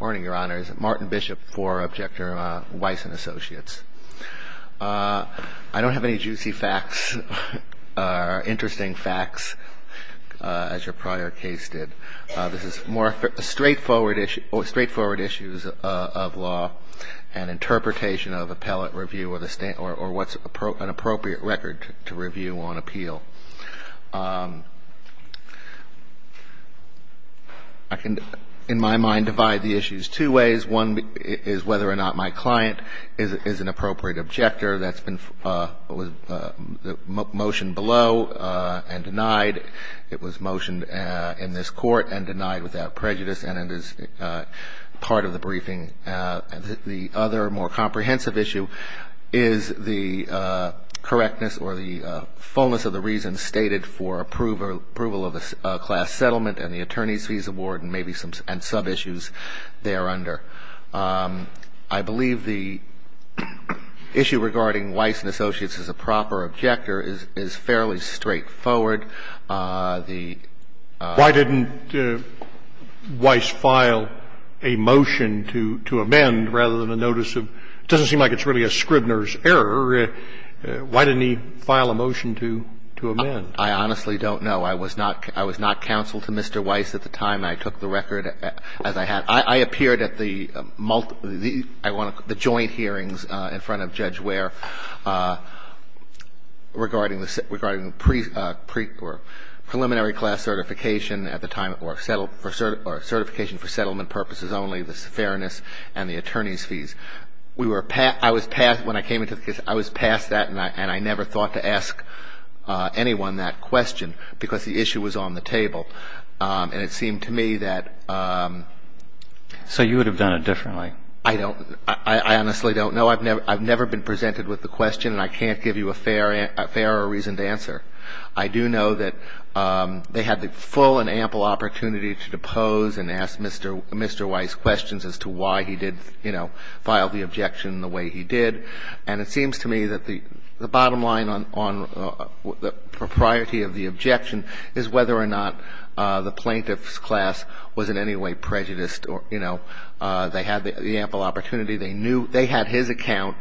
Morning, Your Honors. Martin Bishop for Objector Weiss & Associates. I don't have any juicy facts or interesting facts, as your prior case did. This is more straightforward issues of law and interpretation of appellate review or what's an appropriate record to review on appeal. I can, in my mind, divide the issues two ways. One is whether or not my client is an appropriate objector. That's been motioned below and denied. It was motioned in this Court and denied without prejudice, and it is part of the briefing. The other, more comprehensive issue is the correctness or the fullness of the reasons stated for approval of a class settlement and the attorney's fees award and maybe some sub-issues thereunder. I believe the issue regarding Weiss & Associates as a proper objector is fairly straightforward. The ---- Why didn't Weiss file a motion to amend rather than a notice of ---- it doesn't seem like it's really a Scribner's error. Why didn't he file a motion to amend? I honestly don't know. I was not counsel to Mr. Weiss at the time. I took the record as I had. I appeared at the joint hearings in front of Judge Ware regarding the preliminary class certification at the time or certification for settlement purposes only, the fairness and the attorney's fees. I was passed that, and I never thought to ask anyone that question because the issue was on the table, and it seemed to me that ---- So you would have done it differently? I honestly don't know. I've never been presented with the question, and I can't give you a fair or reasoned answer. I do know that they had the full and ample opportunity to depose and ask Mr. Weiss questions as to why he did file the objection the way he did, and it seems to me that the bottom line on the propriety of the objection is whether or not the plaintiff's class was in any way prejudiced. They had the ample opportunity. They knew they had his account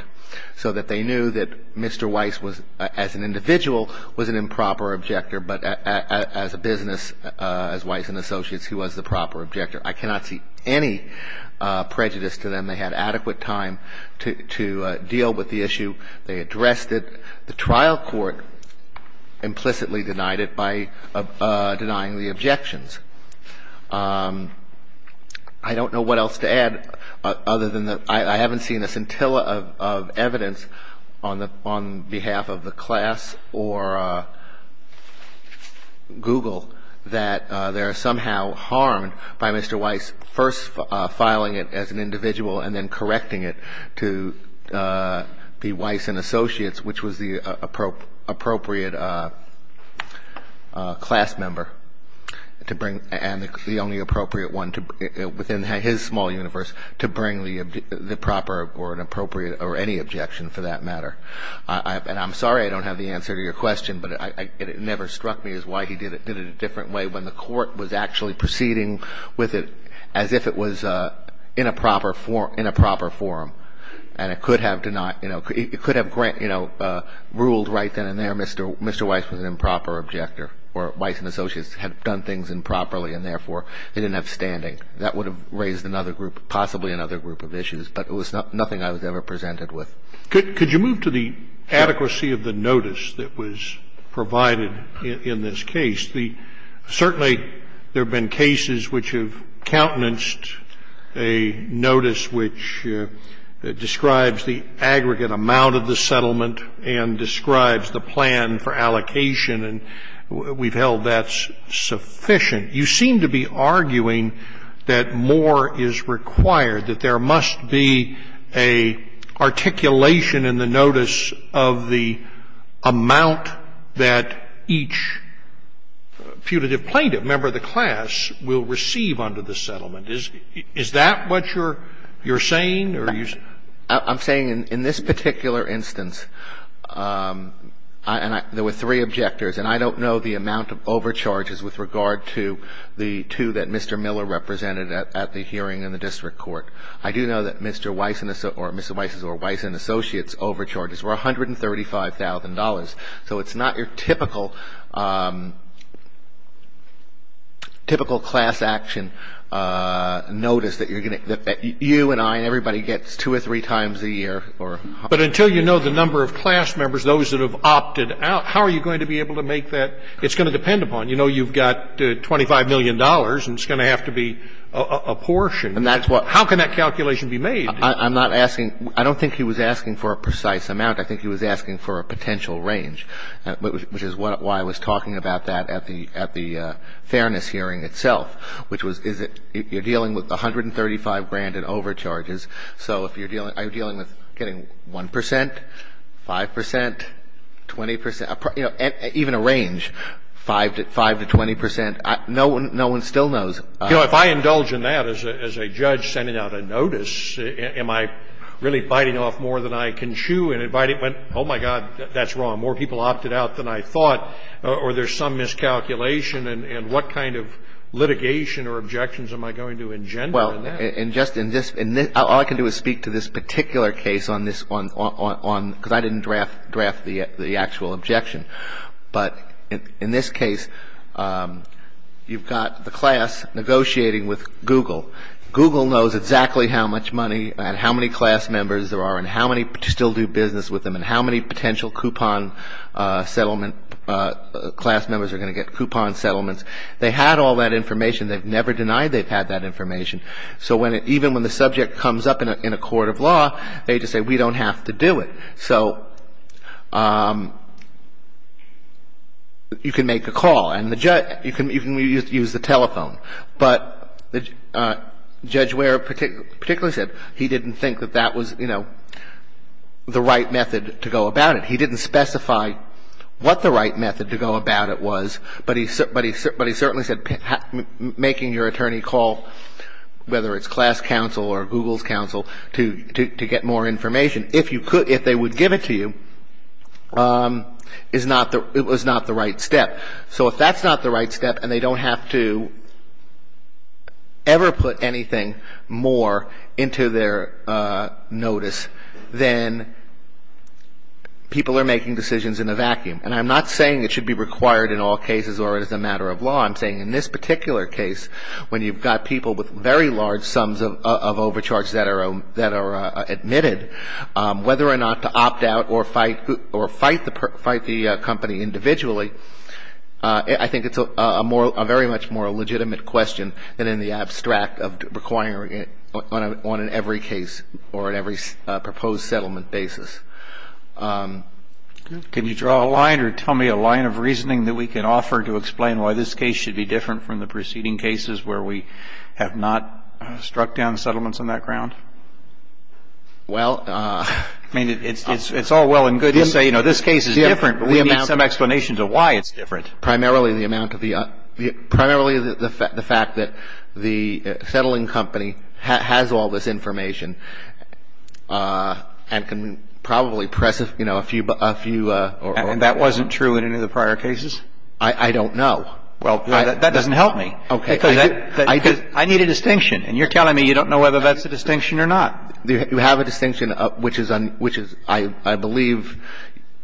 so that they knew that Mr. Weiss was, as an individual, was an improper objector, but as a business, as Weiss and associates, he was the proper objector. I cannot see any prejudice to them. They had adequate time to deal with the issue. They addressed it. The trial court implicitly denied it by denying the objections. I don't know what else to add other than that I haven't seen a scintilla of evidence on behalf of the class or Google that they are somehow harmed by Mr. Weiss first filing it as an individual and then correcting it to the Weiss and associates, which was the appropriate class member to bring, and the only appropriate one within his small universe to bring the proper or any objection for that matter. And I'm sorry I don't have the answer to your question, but it never struck me as why he did it in a different way when the court was actually proceeding with it as if it was in a proper forum, and it could have ruled right then and there Mr. Weiss was an improper objector or Weiss and associates had done things improperly and therefore they didn't have standing. That would have raised another group, possibly another group of issues, but it was nothing I was ever presented with. Could you move to the adequacy of the notice that was provided in this case? Certainly there have been cases which have countenanced a notice which describes the aggregate amount of the settlement and describes the plan for allocation, and we've held that's sufficient. You seem to be arguing that more is required, that there must be an articulation in the notice of the amount that each putative plaintiff, member of the class, will receive under the settlement. Is that what you're saying? I'm saying in this particular instance, there were three objectors, and I don't know the amount of overcharges with regard to the two that Mr. Miller represented at the hearing in the district court. I do know that Mr. Weiss's or Weiss and associates' overcharges were $135,000. So it's not your typical, typical class action notice that you're going to get, that you and I and everybody gets two or three times a year. But until you know the number of class members, those that have opted out, how are you going to be able to make that? It's going to depend upon, you know, you've got $25 million, and it's going to have to be a portion. And that's what How can that calculation be made? I'm not asking – I don't think he was asking for a precise amount. I think he was asking for a potential range, which is why I was talking about that at the Fairness hearing itself, which was you're dealing with $135,000 in overcharges. So if you're dealing – are you dealing with getting 1 percent, 5 percent, 20 percent? You know, even a range, 5 to 20 percent, no one still knows. You know, if I indulge in that as a judge sending out a notice, am I really biting off more than I can chew and inviting – oh, my God, that's wrong. More people opted out than I thought, or there's some miscalculation. And what kind of litigation or objections am I going to engender in that? Well, and just in this – all I can do is speak to this particular case on this because I didn't draft the actual objection. But in this case, you've got the class negotiating with Google. Google knows exactly how much money and how many class members there are and how many still do business with them and how many potential coupon settlement – class members are going to get coupon settlements. They had all that information. They've never denied they've had that information. So when – even when the subject comes up in a court of law, they just say, we don't have to do it. So you can make a call and the judge – you can use the telephone. But Judge Ware particularly said he didn't think that that was, you know, the right method to go about it. He didn't specify what the right method to go about it was, but he certainly said making your attorney call, whether it's class counsel or Google's counsel, to get more information, if you could – if they would give it to you, is not the – it was not the right step. So if that's not the right step and they don't have to ever put anything more into their notice, then people are making decisions in a vacuum. And I'm not saying it should be required in all cases or as a matter of law. I'm saying in this particular case, when you've got people with very large sums of overcharges that are – that are admitted, whether or not to opt out or fight the – fight the company individually, I think it's a more – a very much more legitimate question than in the abstract of requiring it on an every case or in every proposed settlement basis. Can you draw a line or tell me a line of reasoning that we can offer to explain why this case should be different from the preceding cases where we have not struck down the settlements on that ground? Well, I mean, it's all well and good to say, you know, this case is different, but we need some explanation to why it's different. Primarily the amount of the – primarily the fact that the settling company has all this information and can probably press, you know, a few – a few or or or. And that wasn't true in any of the prior cases? I don't know. Well, that doesn't help me. Okay. I need a distinction, and you're telling me you don't know whether that's a distinction or not. You have a distinction which is – which is, I believe,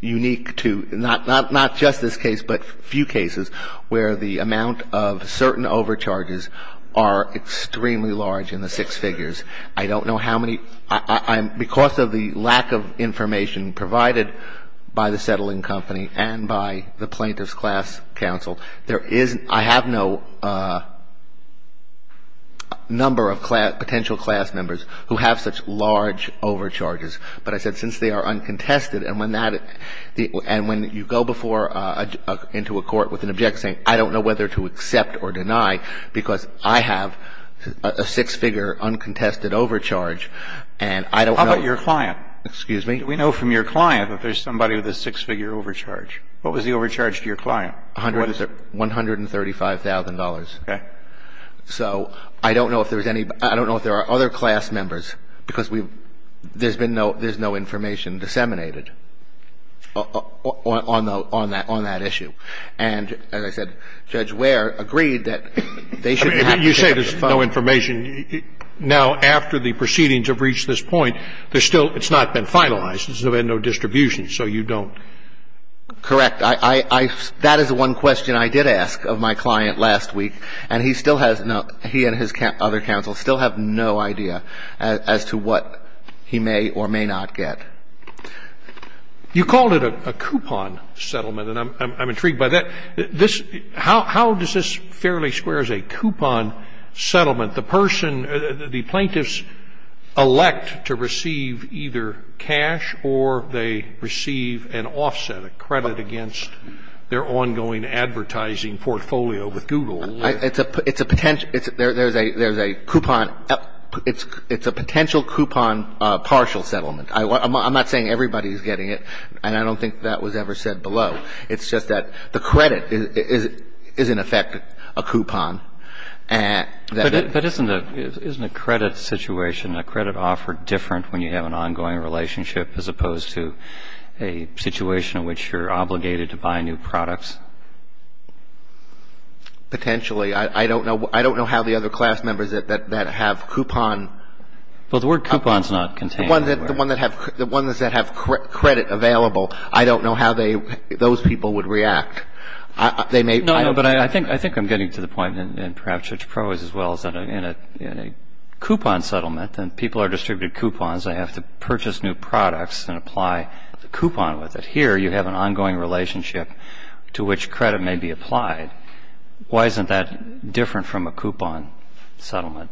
unique to not – not just this case, but few cases where the amount of certain overcharges are extremely large in the six figures. I don't know how many – because of the lack of information provided by the settling company and by the plaintiff's class counsel, there is – I have no number of potential class members who have such large overcharges. But I said since they are uncontested and when that – and when you go before – into a court with an objection saying, I don't know whether to accept or deny because I have a six-figure uncontested overcharge, and I don't know… How about your client? Excuse me? Do we know from your client that there's somebody with a six-figure overcharge? What was the overcharge to your client? $135,000. Okay. So I don't know if there's any – I don't know if there are other class members because we – there's been no – there's no information disseminated on that issue. And as I said, Judge Ware agreed that they shouldn't have to take that as a fine. I mean, you say there's no information. Now, after the proceedings have reached this point, there's still – it's not been finalized. There's been no distribution, so you don't… Correct. I – that is one question I did ask of my client last week, and he still has no – he and his other counsel still have no idea as to what he may or may not get. You called it a coupon settlement, and I'm intrigued by that. This – how does this fairly square as a coupon settlement? The person – the plaintiffs elect to receive either cash or they receive an offset, a credit against their ongoing advertising portfolio with Google. It's a – it's a – there's a coupon – it's a potential coupon partial settlement. I'm not saying everybody's getting it, and I don't think that was ever said below. It's just that the credit is in effect a coupon. But isn't a – isn't a credit situation, a credit offer different when you have an ongoing relationship as opposed to a situation in which you're obligated to buy new products? Potentially. I don't know – I don't know how the other class members that have coupon… Well, the word coupon's not contained anywhere. The one that have – the ones that have credit available, I don't know how they – those people would react. They may… No, no, but I think – I think I'm getting to the point, and perhaps Judge Proh is as well, is that in a – in a coupon settlement, then people are distributed coupons. They have to purchase new products and apply the coupon with it. Here, you have an ongoing relationship to which credit may be applied. Why isn't that different from a coupon settlement?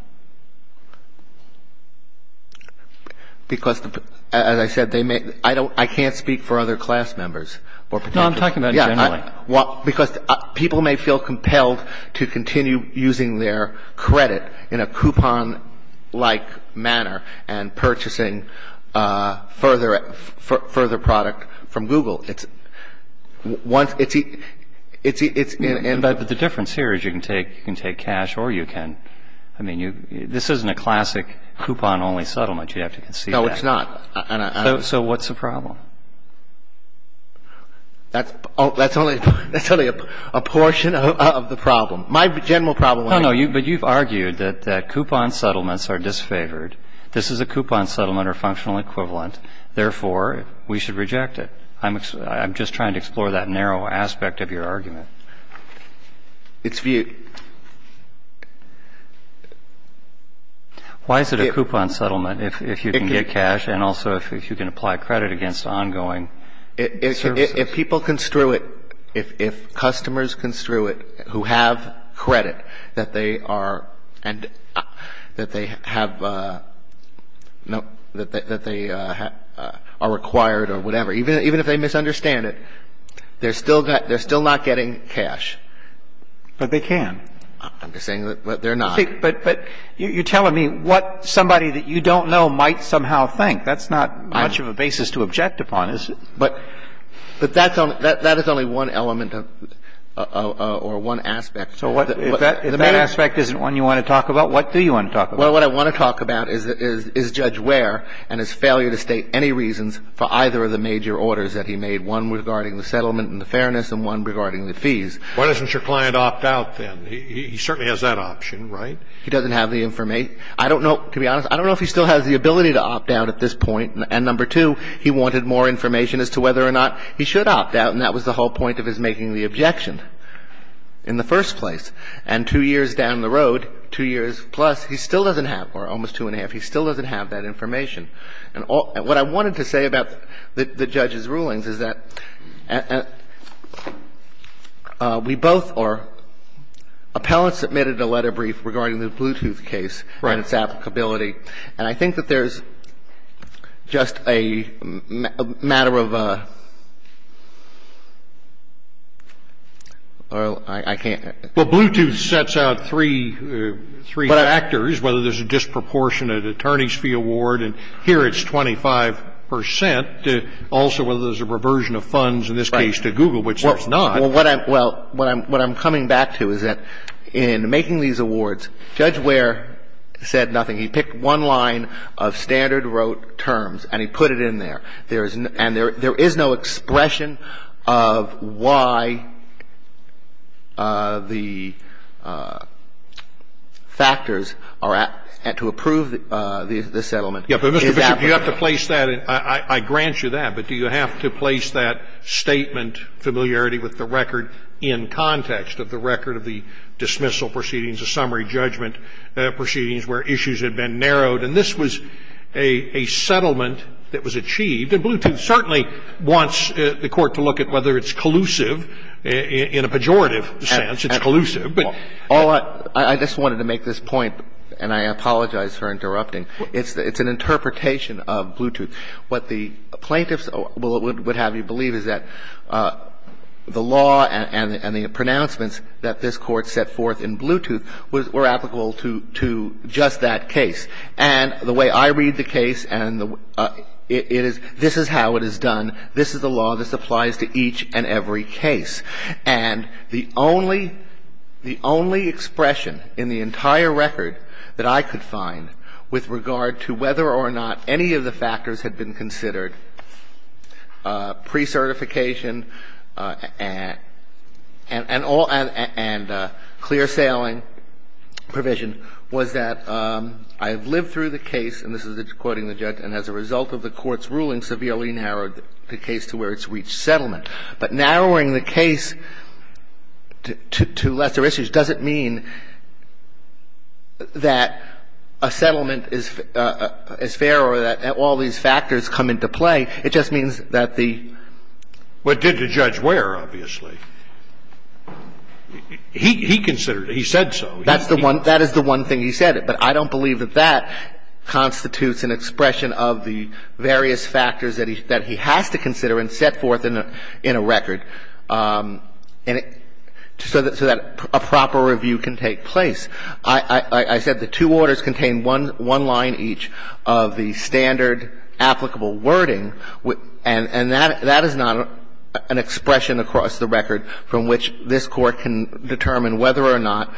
Because the – as I said, they may – I don't – I can't speak for other class members. No, I'm talking about generally. Well, because people may feel compelled to continue using their credit in a coupon-like manner and purchasing further – further product from Google. It's – once – it's – it's – it's… But the difference here is you can take – you can take cash or you can – I mean, you – this isn't a classic coupon-only settlement. You have to concede that. No, it's not. And I… So what's the problem? That's – that's only – that's only a portion of the problem. My general problem… No, no. You – but you've argued that – that coupon settlements are disfavored. This is a coupon settlement or functional equivalent, therefore, we should reject it. I'm – I'm just trying to explore that narrow aspect of your argument. It's viewed… Why is it a coupon settlement if – if you can get cash and also if you can apply credit against ongoing services? If people construe it – if – if customers construe it who have credit that they are – and that they have – that they are required or whatever, even – even if they misunderstand it, they're still – they're still not getting cash. But they can. I'm just saying that they're not. But – but you're telling me what somebody that you don't know might somehow think. That's not much of a basis to object upon, is it? But – but that's only – that is only one element of – or one aspect. So what – if that – if that aspect isn't one you want to talk about, what do you want to talk about? Well, what I want to talk about is – is Judge Ware and his failure to state any reasons for either of the major orders that he made, one regarding the settlement and the fairness and one regarding the fees. Why doesn't your client opt out, then? He – he certainly has that option, right? He doesn't have the – I don't know – to be honest, I don't know if he still has the ability to opt out at this point, and number two, he wanted more information as to whether or not he should opt out, and that was the whole point of his making the objection in the first place. And two years down the road, two years plus, he still doesn't have – or almost two and a half – he still doesn't have that information. And all – and what I wanted to say about the – the judge's rulings is that we both are – appellant submitted a letter brief regarding the Bluetooth case and its applicability, and I think that there's just a matter of a – I can't – Well, Bluetooth sets out three – three factors, whether there's a disproportionate attorney's fee award, and here it's 25 percent. Also, whether there's a reversion of funds, in this case, to Google, which there's not. Well, what I'm – well, what I'm – what I'm coming back to is that in making these awards, Judge Ware said nothing. He picked one line of standard rote terms, and he put it in there. There is no – and there is no expression of why the factors are at – to approve the settlement is applicable. Yeah, but, Mr. Bishop, you have to place that in – I grant you that, but do you have to place that statement familiarity with the record in context of the record of the dismissal proceedings, the summary judgment proceedings where issues have been narrowed? And this was a settlement that was achieved, and Bluetooth certainly wants the Court to look at whether it's collusive in a pejorative sense, it's collusive, but – Well, I just wanted to make this point, and I apologize for interrupting. It's an interpretation of Bluetooth. What the plaintiffs would have you believe is that the law and the pronouncements that this Court set forth in Bluetooth were applicable to just that case. And the way I read the case and the – it is – this is how it is done. This is the law. This applies to each and every case. And the only – the only expression in the entire record that I could find with regard to whether or not any of the factors had been considered, precertification and all – and clear sailing provision, was that I have lived through the case, and this is quoting the judge, and as a result of the Court's ruling, severely narrowed the case to where it's reached settlement. But narrowing the case to lesser issues doesn't mean that a settlement is fair or that all these factors come into play. It just means that the – But did the judge where, obviously? He considered it. He said so. That's the one – that is the one thing he said. But I don't believe that that constitutes an expression of the various factors that he has to consider and set forth in a record, so that a proper review can take place. I said the two orders contain one line each of the standard applicable wording and that is not an expression across the record from which this Court can determine whether or not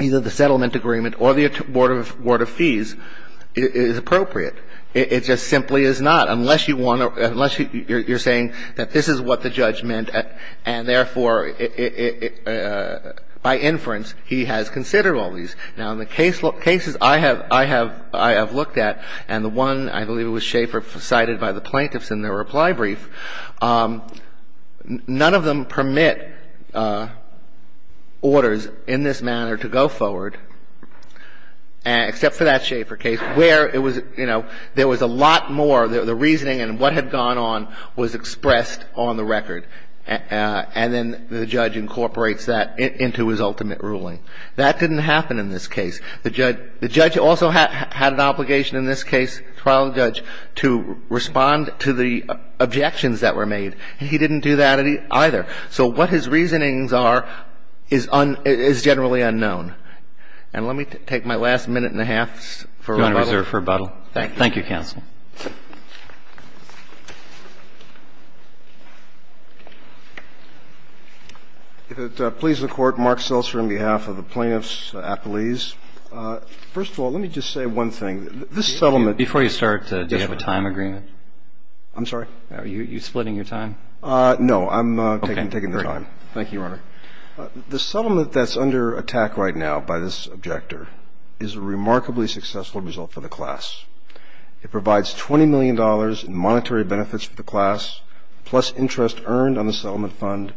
either the settlement agreement or the Board of Fees is appropriate. It just simply is not, unless you want to – unless you're saying that this is what the judge meant, and therefore, by inference, he has considered all these. Now, in the cases I have – I have looked at, and the one, I believe it was Schaefer cited by the plaintiffs in their reply brief, none of them permit orders in this manner to go forward, except for that Schaefer case, where it was, you know, there was a lot more, the reasoning and what had gone on was expressed on the record, and then the judge incorporates that into his ultimate ruling. That didn't happen in this case. The judge also had an obligation in this case, trial judge, to respond to the objections that were made. He didn't do that either. So what his reasonings are is generally unknown. And let me take my last minute and a half for rebuttal. Roberts, Thank you, counsel. If it pleases the Court, Mark Seltzer on behalf of the Plaintiffs' Appellees. First of all, let me just say one thing. This settlement – Before you start, do you have a time agreement? I'm sorry? Are you splitting your time? No. I'm taking the time. Okay. Great. Thank you, Your Honor. The settlement that's under attack right now by this objector is a remarkably successful result for the class. It provides $20 million in monetary benefits for the class, plus interest earned on the settlement fund,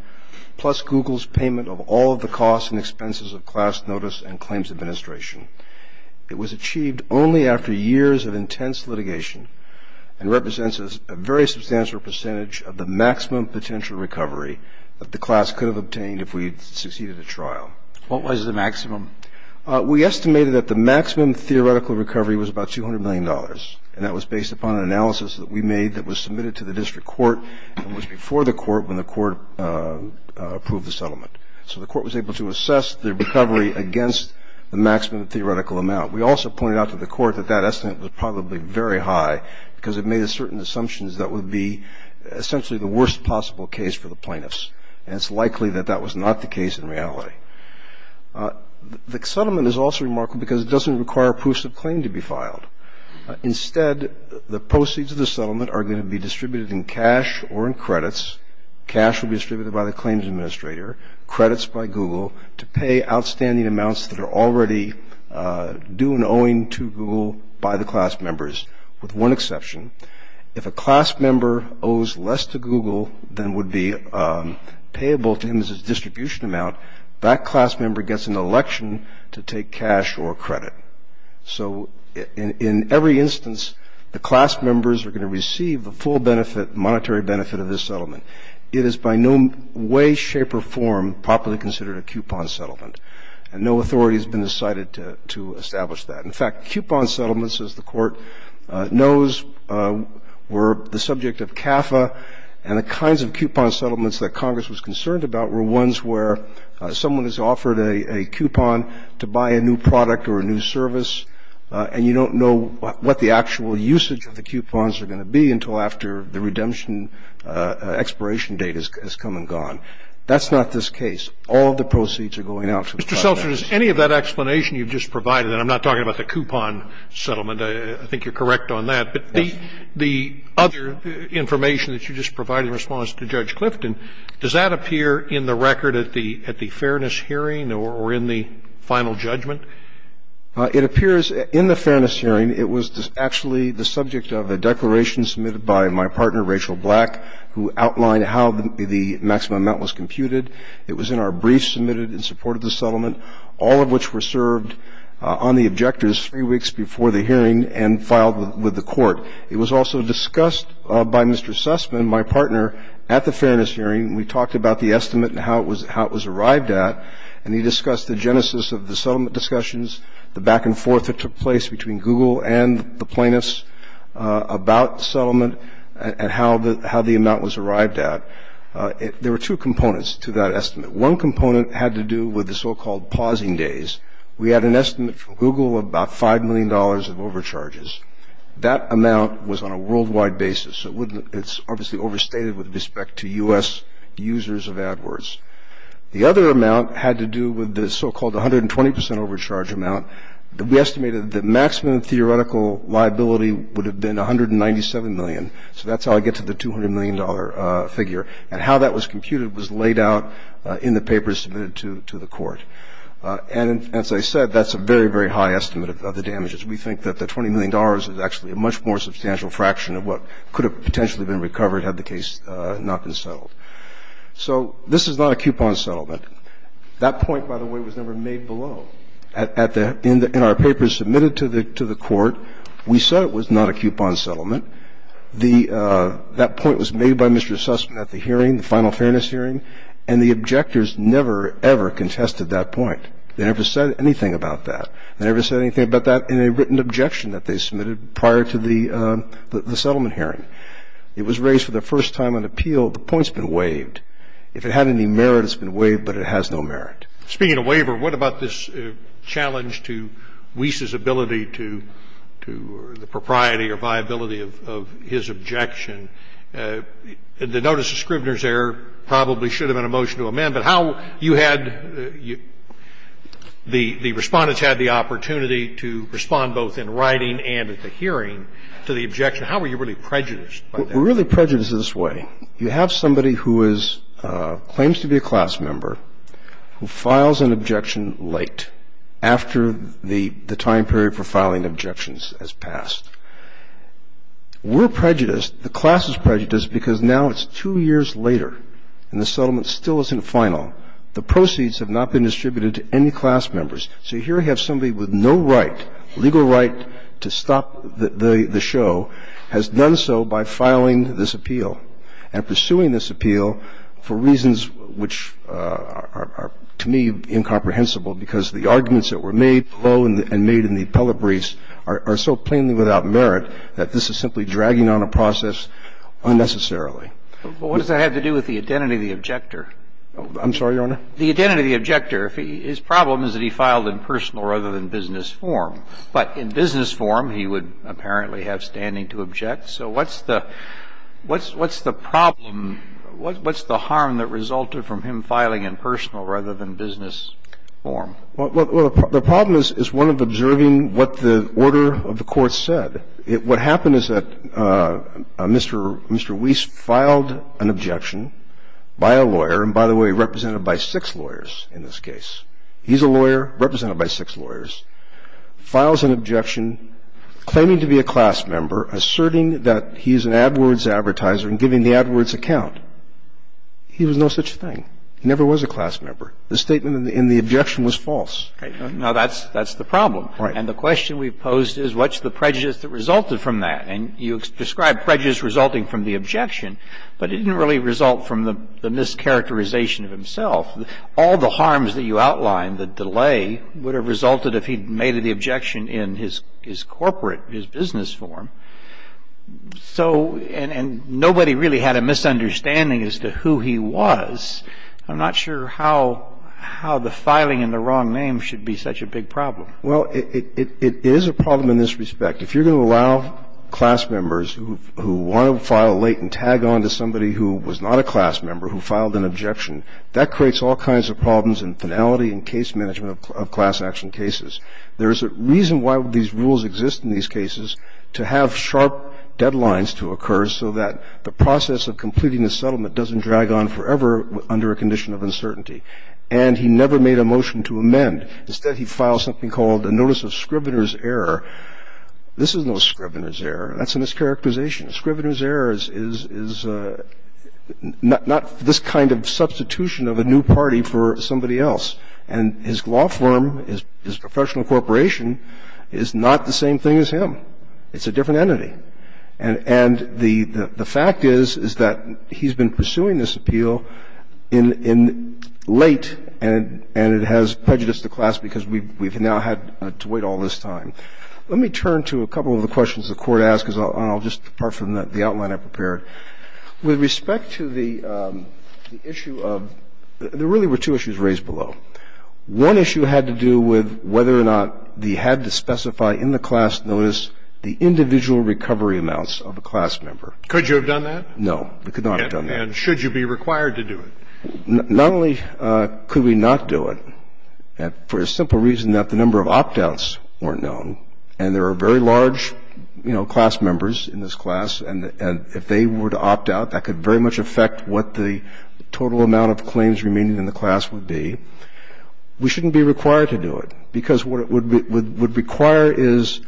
plus Google's payment of all of the costs and expenses of class notice and claims administration. It was achieved only after years of intense litigation and represents a very substantial percentage of the maximum potential recovery that the class could have obtained if we had succeeded at trial. What was the maximum? We estimated that the maximum theoretical recovery was about $200 million, and that was based upon an analysis that we made that was submitted to the district court and was before the court when the court approved the settlement. So the court was able to assess the recovery against the maximum theoretical amount. We also pointed out to the court that that estimate was probably very high because it made certain assumptions that would be essentially the worst possible case for the plaintiffs, and it's likely that that was not the case in reality. The settlement is also remarkable because it doesn't require proofs of claim to be filed. Instead, the proceeds of the settlement are going to be distributed in cash or in credits. Cash will be distributed by the claims administrator, credits by Google, to pay outstanding amounts that are already due and owing to Google by the class members, with one exception. If a class member owes less to Google than would be payable to him as his distribution amount, that class member gets an election to take cash or credit. So in every instance, the class members are going to receive the full benefit, monetary benefit of this settlement. It is by no way, shape, or form properly considered a coupon settlement, and no authority has been decided to establish that. In fact, coupon settlements, as the court knows, were the subject of CAFA, and the offer to buy a new product or a new service, and you don't know what the actual usage of the coupons are going to be until after the redemption expiration date has come and gone. That's not this case. All of the proceeds are going out to the client. Scalia. Mr. Seltzer, does any of that explanation you've just provided, and I'm not talking about the coupon settlement. I think you're correct on that. But the other information that you just provided in response to Judge Clifton, does that appear in the record at the fairness hearing or in the final judgment? It appears in the fairness hearing. It was actually the subject of a declaration submitted by my partner, Rachel Black, who outlined how the maximum amount was computed. It was in our brief submitted in support of the settlement, all of which were served on the objectors three weeks before the hearing and filed with the court. It was also discussed by Mr. Sussman, my partner, at the fairness hearing. We talked about the estimate and how it was arrived at, and he discussed the genesis of the settlement discussions, the back and forth that took place between Google and the plaintiffs about settlement and how the amount was arrived at. There were two components to that estimate. One component had to do with the so-called pausing days. We had an estimate from Google of about $5 million of overcharges. That amount was on a worldwide basis. It's obviously overstated with respect to U.S. users of AdWords. The other amount had to do with the so-called 120 percent overcharge amount. We estimated that the maximum theoretical liability would have been $197 million. So that's how I get to the $200 million figure. And how that was computed was laid out in the papers submitted to the court. And as I said, that's a very, very high estimate of the damages. We think that the $20 million is actually a much more substantial fraction of what could have potentially been recovered had the case not been settled. So this is not a coupon settlement. That point, by the way, was never made below. In our papers submitted to the court, we said it was not a coupon settlement. That point was made by Mr. Sussman at the hearing, the final fairness hearing, and the objectors never, ever contested that point. They never said anything about that. They never said anything about that in a written objection that they submitted prior to the settlement hearing. It was raised for the first time on appeal. The point's been waived. If it had any merit, it's been waived, but it has no merit. Scalia. Speaking of waiver, what about this challenge to Wiese's ability to the propriety or viability of his objection? The notice of Scrivener's error probably should have been a motion to amend, but how did that happen? Well, you had the respondents had the opportunity to respond both in writing and at the hearing to the objection. How were you really prejudiced by that? We're really prejudiced in this way. You have somebody who is, claims to be a class member, who files an objection late, after the time period for filing objections has passed. We're prejudiced. The class is prejudiced because now it's two years later and the settlement still isn't final. The proceeds have not been distributed to any class members. So here you have somebody with no right, legal right, to stop the show, has done so by filing this appeal and pursuing this appeal for reasons which are, to me, incomprehensible because the arguments that were made below and made in the appellate briefs are so plainly without merit that this is simply dragging on a process unnecessarily. But what does that have to do with the identity of the objector? I'm sorry, Your Honor? The identity of the objector, his problem is that he filed in personal rather than business form. But in business form, he would apparently have standing to object. So what's the problem, what's the harm that resulted from him filing in personal rather than business form? Well, the problem is one of observing what the order of the court said. And what happened is that Mr. Weiss filed an objection by a lawyer, and by the way, represented by six lawyers in this case. He's a lawyer represented by six lawyers, files an objection claiming to be a class member, asserting that he's an AdWords advertiser and giving the AdWords account. He was no such thing. He never was a class member. The statement in the objection was false. Now, that's the problem. And the question we've posed is what's the prejudice that resulted from that? And you describe prejudice resulting from the objection, but it didn't really result from the mischaracterization of himself. All the harms that you outlined, the delay, would have resulted if he'd made the objection in his corporate, his business form. So, and nobody really had a misunderstanding as to who he was. I'm not sure how the filing in the wrong name should be such a big problem. Well, it is a problem in this respect. If you're going to allow class members who want to file late and tag on to somebody who was not a class member who filed an objection, that creates all kinds of problems in finality and case management of class action cases. There is a reason why these rules exist in these cases, to have sharp deadlines to occur so that the process of completing the settlement doesn't drag on forever under a condition of uncertainty. And he never made a motion to amend. Instead, he filed something called a notice of scrivener's error. This is no scrivener's error. That's a mischaracterization. A scrivener's error is not this kind of substitution of a new party for somebody else. And his law firm, his professional corporation, is not the same thing as him. It's a different entity. And the fact is, is that he's been pursuing this appeal in late, and it has prejudiced the class because we've now had to wait all this time. Let me turn to a couple of the questions the Court asked, and I'll just depart from the outline I prepared. With respect to the issue of there really were two issues raised below. One issue had to do with whether or not they had to specify in the class notice the individual recovery amounts of a class member. Could you have done that? No, we could not have done that. And should you be required to do it? Not only could we not do it for a simple reason that the number of opt-outs weren't known, and there are very large, you know, class members in this class, and if they were to opt out, that could very much affect what the total amount of claims remaining in the class would be. We shouldn't be required to do it because what it would require is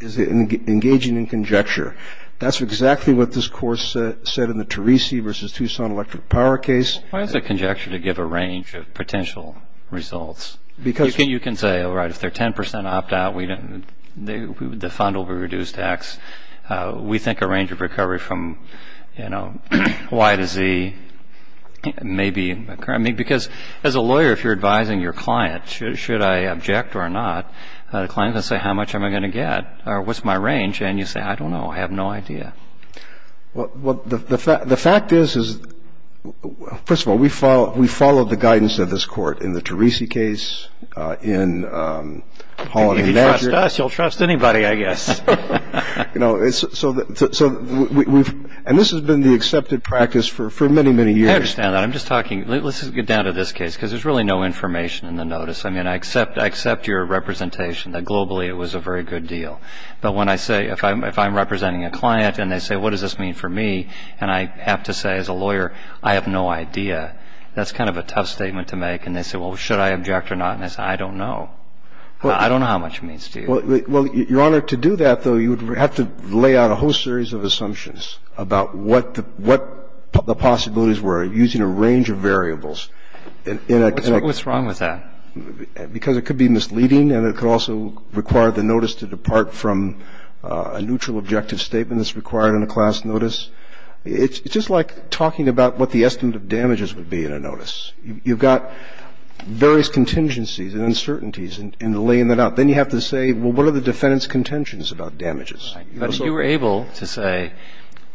engaging in conjecture. That's exactly what this Court said in the Teresi v. Tucson electric power case. Why is it conjecture to give a range of potential results? You can say, all right, if they're 10% opt-out, the fund will be reduced to X. We think a range of recovery from, you know, Y to Z may be occurring. Because as a lawyer, if you're advising your client, should I object or not, the client is going to say, how much am I going to get, or what's my range? And you say, I don't know. I have no idea. The fact is, first of all, we followed the guidance of this Court in the Teresi case, in Holliday and Badger. If you trust us, you'll trust anybody, I guess. You know, and this has been the accepted practice for many, many years. I understand that. I'm just talking, let's get down to this case, because there's really no information in the notice. I mean, I accept your representation that globally it was a very good deal. But when I say, if I'm representing a client, and they say, what does this mean for me? And I have to say, as a lawyer, I have no idea. That's kind of a tough statement to make. And they say, well, should I object or not? And I say, I don't know. I don't know how much it means to you. Well, Your Honor, to do that, though, you would have to lay out a whole series of assumptions about what the possibilities were, using a range of variables. What's wrong with that? Because it could be misleading, and it could also require the notice to depart from a neutral objective statement that's required on a class notice. It's just like talking about what the estimate of damages would be in a notice. You've got various contingencies and uncertainties, and laying that out. Then you have to say, well, what are the defendant's contentions about damages? But if you were able to say,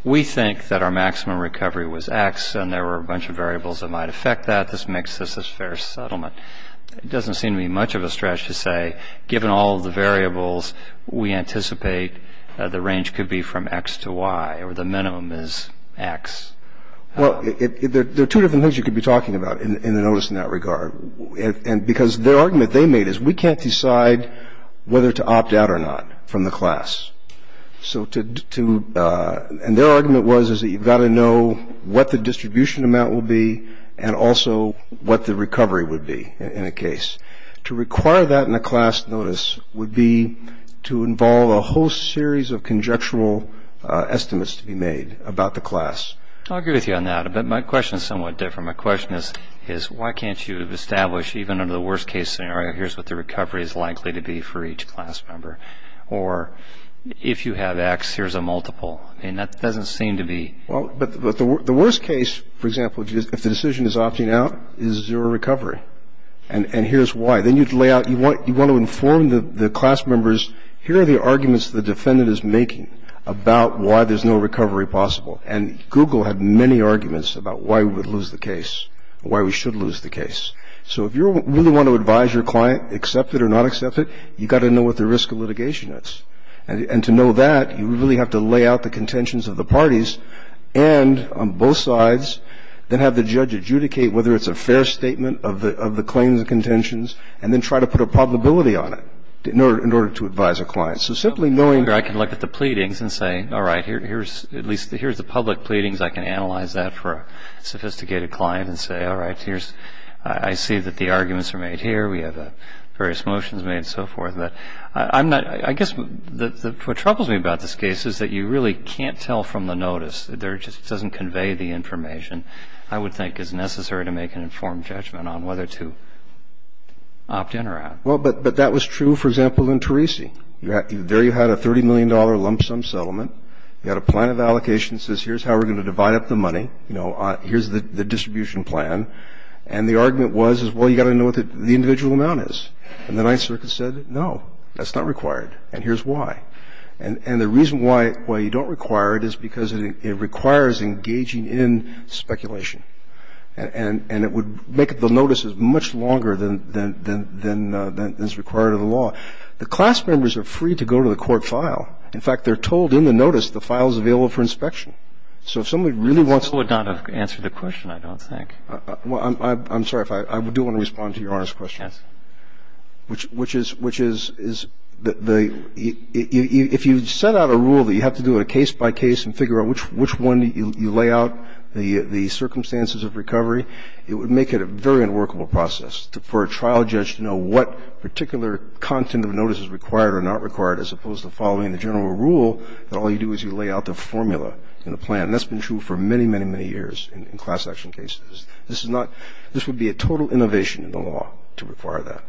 we think that our maximum recovery was X, and there were a bunch of variables that might affect that, this makes this a fair settlement, it doesn't seem to be much of a stretch to say, given all of the variables, we anticipate that the range could be from X to Y, or the minimum is X. Well, there are two different things you could be talking about in the notice in that regard, because their argument they made is, we can't decide whether to opt out or not from the class. And their argument was that you've got to know what the distribution amount will be and also what the recovery would be in a case. To require that in a class notice would be to involve a whole series of conjectural estimates to be made about the class. I'll agree with you on that. But my question is somewhat different. My question is, why can't you establish, even under the worst case scenario, here's what the recovery is likely to be for each class member? Or if you have X, here's a multiple. And that doesn't seem to be. Well, but the worst case, for example, if the decision is opting out, is zero recovery. And here's why. Then you'd lay out, you want to inform the class members, here are the arguments the defendant is making about why there's no recovery possible. And Google had many arguments about why we would lose the case, why we should lose the case. So if you really want to advise your client, accept it or not accept it, you've got to know what the risk of litigation is. And to know that, you really have to lay out the contentions of the parties and, on both sides, then have the judge adjudicate whether it's a fair statement of the claims and contentions, and then try to put a probability on it in order to advise a client. So simply knowing that. I can look at the pleadings and say, all right, here's the public pleadings. I can analyze that for a sophisticated client and say, all right, I see that the arguments are made here. We have various motions made and so forth. But I guess what troubles me about this case is that you really can't tell from the notice. It just doesn't convey the information I would think is necessary to make an informed judgment on whether to opt in or out. Well, but that was true, for example, in Teresi. There you had a $30 million lump sum settlement. You had a plan of allocation that says, here's how we're going to divide up the money. You know, here's the distribution plan. And the argument was, well, you've got to know what the individual amount is. And the Ninth Circuit said, no, that's not required. And here's why. And the reason why you don't require it is because it requires engaging in speculation. And it would make the notices much longer than is required of the law. The class members are free to go to the court file. In fact, they're told in the notice the file is available for inspection. So if somebody really wants to ---- This would not have answered the question, I don't think. Well, I'm sorry. I do want to respond to Your Honor's question. Yes. Which is the ---- if you set out a rule that you have to do it case by case and figure out which one you lay out the circumstances of recovery, it would make it a very unworkable process for a trial judge to know what particular content of notice is required or not required as opposed to following the general rule that all you do is you lay out the formula in the plan. And that's been true for many, many, many years in class action cases. This is not ---- this would be a total innovation in the law to require that.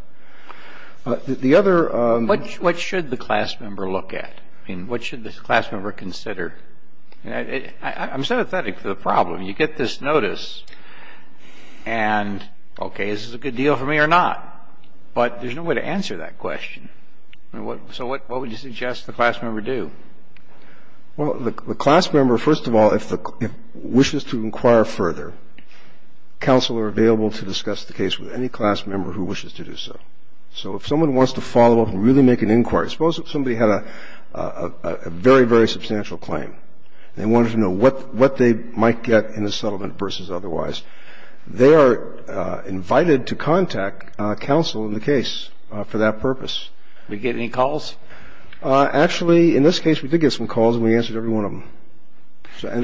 The other ---- What should the class member look at? I mean, what should the class member consider? I'm sympathetic to the problem. You get this notice and, okay, is this a good deal for me or not? But there's no way to answer that question. So what would you suggest the class member do? Well, the class member, first of all, if the ---- wishes to inquire further, counsel are available to discuss the case with any class member who wishes to do so. So if someone wants to follow up and really make an inquiry, suppose if somebody had a very, very substantial claim and they wanted to know what they might get in the settlement versus otherwise, they are invited to contact counsel in the case for that purpose. Do they get any calls? Actually, in this case, we did get some calls and we answered every one of them.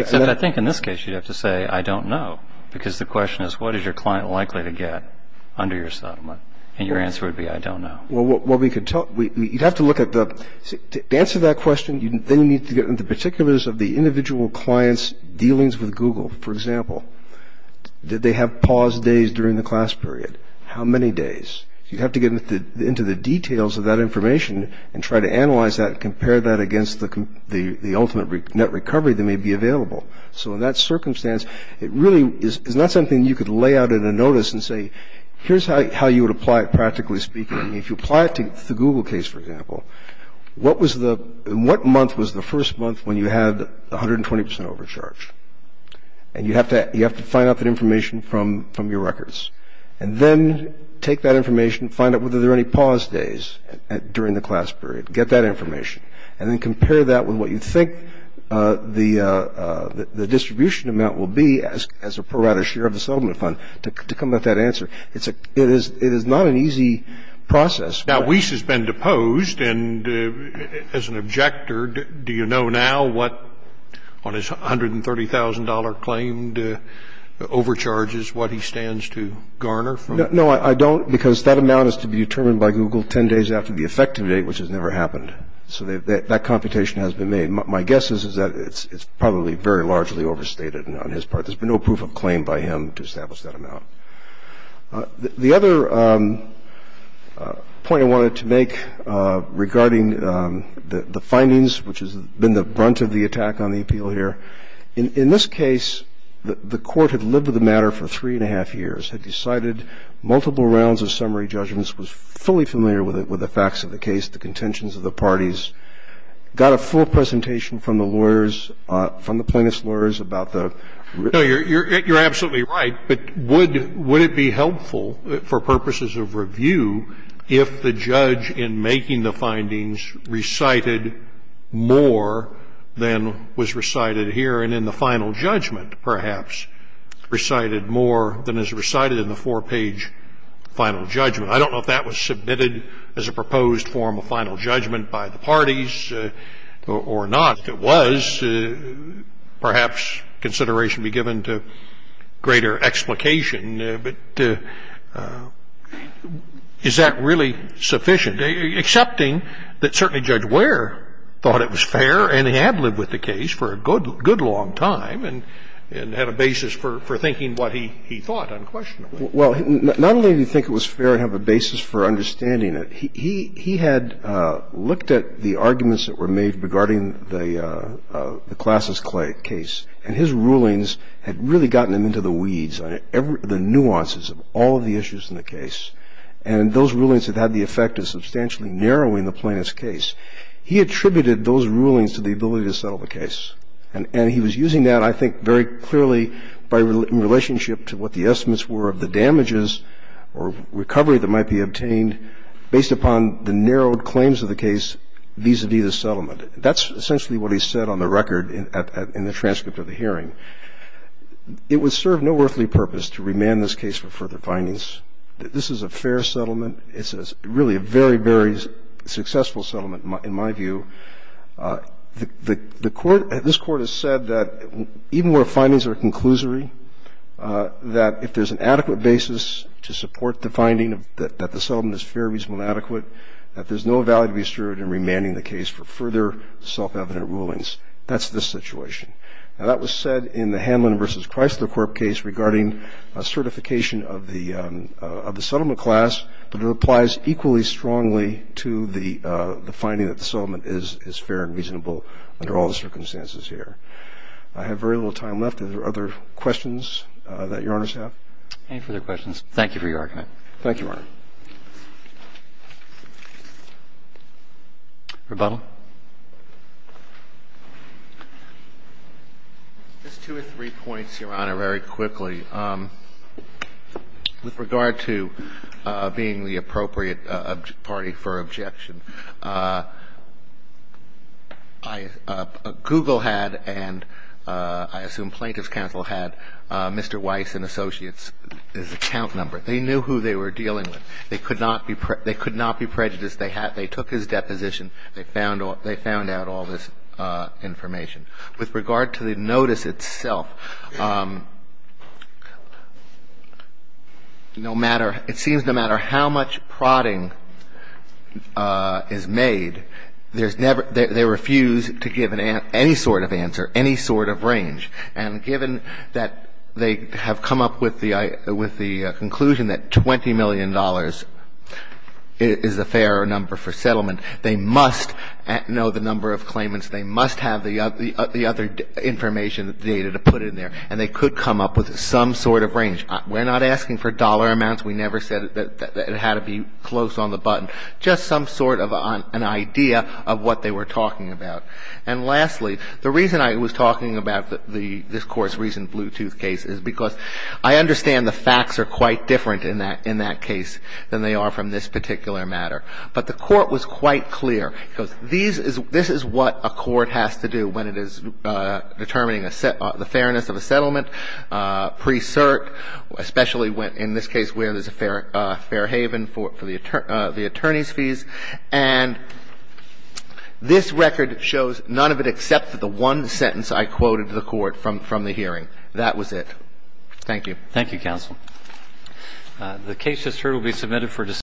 Except I think in this case you'd have to say, I don't know, because the question is, what is your client likely to get under your settlement? And your answer would be, I don't know. Well, we could tell ---- you'd have to look at the ---- to answer that question, you then need to get into particulars of the individual client's dealings with Google. For example, did they have paused days during the class period? How many days? You'd have to get into the details of that information and try to analyze that and compare that against the ultimate net recovery that may be available. So in that circumstance, it really is not something you could lay out in a notice and say, here's how you would apply it practically speaking. If you apply it to the Google case, for example, what was the ---- what month was the first month when you had 120 percent overcharge? And you have to find out that information from your records. And then take that information, find out whether there are any paused days during the class period. Get that information. And then compare that with what you think the distribution amount will be as a pro rata share of the settlement fund to come up with that answer. It is not an easy process. Now, Weiss has been deposed. And as an objector, do you know now what, on his $130,000 claim, the overcharge is what he stands to garner from it? No, I don't, because that amount is to be determined by Google 10 days after the effective date, which has never happened. So that computation has been made. My guess is that it's probably very largely overstated on his part. There's been no proof of claim by him to establish that amount. The other point I wanted to make regarding the findings, which has been the brunt of the attack on the appeal here, in this case, the Court had lived with the matter for three and a half years, had decided multiple rounds of summary judgments, was fully familiar with the facts of the case, the contentions of the parties, got a full presentation from the lawyers – from the plaintiff's lawyers about the – No, you're absolutely right. But would it be helpful for purposes of review if the judge, in making the findings, more than was recited here and in the final judgment, perhaps, recited more than is recited in the four-page final judgment? I don't know if that was submitted as a proposed form of final judgment by the parties or not. If it was, perhaps consideration be given to greater explication. But is that really sufficient, excepting that certainly Judge Ware thought it was fair and had lived with the case for a good, good long time and had a basis for thinking what he thought unquestionably? Well, not only did he think it was fair and have a basis for understanding it, he had looked at the arguments that were made regarding the Classes case, the nuances of all of the issues in the case, and those rulings that had the effect of substantially narrowing the plaintiff's case. He attributed those rulings to the ability to settle the case. And he was using that, I think, very clearly in relationship to what the estimates were of the damages or recovery that might be obtained based upon the narrowed claims of the case vis-à-vis the settlement. That's essentially what he said on the record in the transcript of the hearing. It would serve no earthly purpose to remand this case for further findings. This is a fair settlement. It's really a very, very successful settlement in my view. The Court – this Court has said that even where findings are a conclusory, that if there's an adequate basis to support the finding that the settlement is fair, reasonable, and adequate, that there's no value to be asserted in remanding the case for further self-evident rulings. That's the situation. Now, that was said in the Hanlon v. Chrysler Corp case regarding certification of the settlement class, but it applies equally strongly to the finding that the settlement is fair and reasonable under all the circumstances here. I have very little time left. Are there other questions that Your Honors have? Any further questions? Thank you for your argument. Thank you, Your Honor. Rebuttal. Just two or three points, Your Honor, very quickly. With regard to being the appropriate party for objection, Google had and I assume Plaintiff's counsel had Mr. Weiss and Associates' account number. They knew who they were dealing with. They could not be prejudiced. They took his deposition. They found out all this information. With regard to the notice itself, no matter – it seems no matter how much prodding is made, there's never – they refuse to give any sort of answer, any sort of range. And given that they have come up with the conclusion that $20 million is a fair number for settlement, they must know the number of claimants. They must have the other information, the data to put in there. And they could come up with some sort of range. We're not asking for dollar amounts. We never said that it had to be close on the button. Just some sort of an idea of what they were talking about. And lastly, the reason I was talking about the – this Court's recent Bluetooth case is because I understand the facts are quite different in that case than they are from this particular matter. But the Court was quite clear because these is – this is what a court has to do when it is determining the fairness of a settlement, pre-cert, especially in this case And this record shows none of it except for the one sentence I quoted to the Court from the hearing. That was it. Thank you. Thank you, counsel. The case just heard will be submitted for discussion.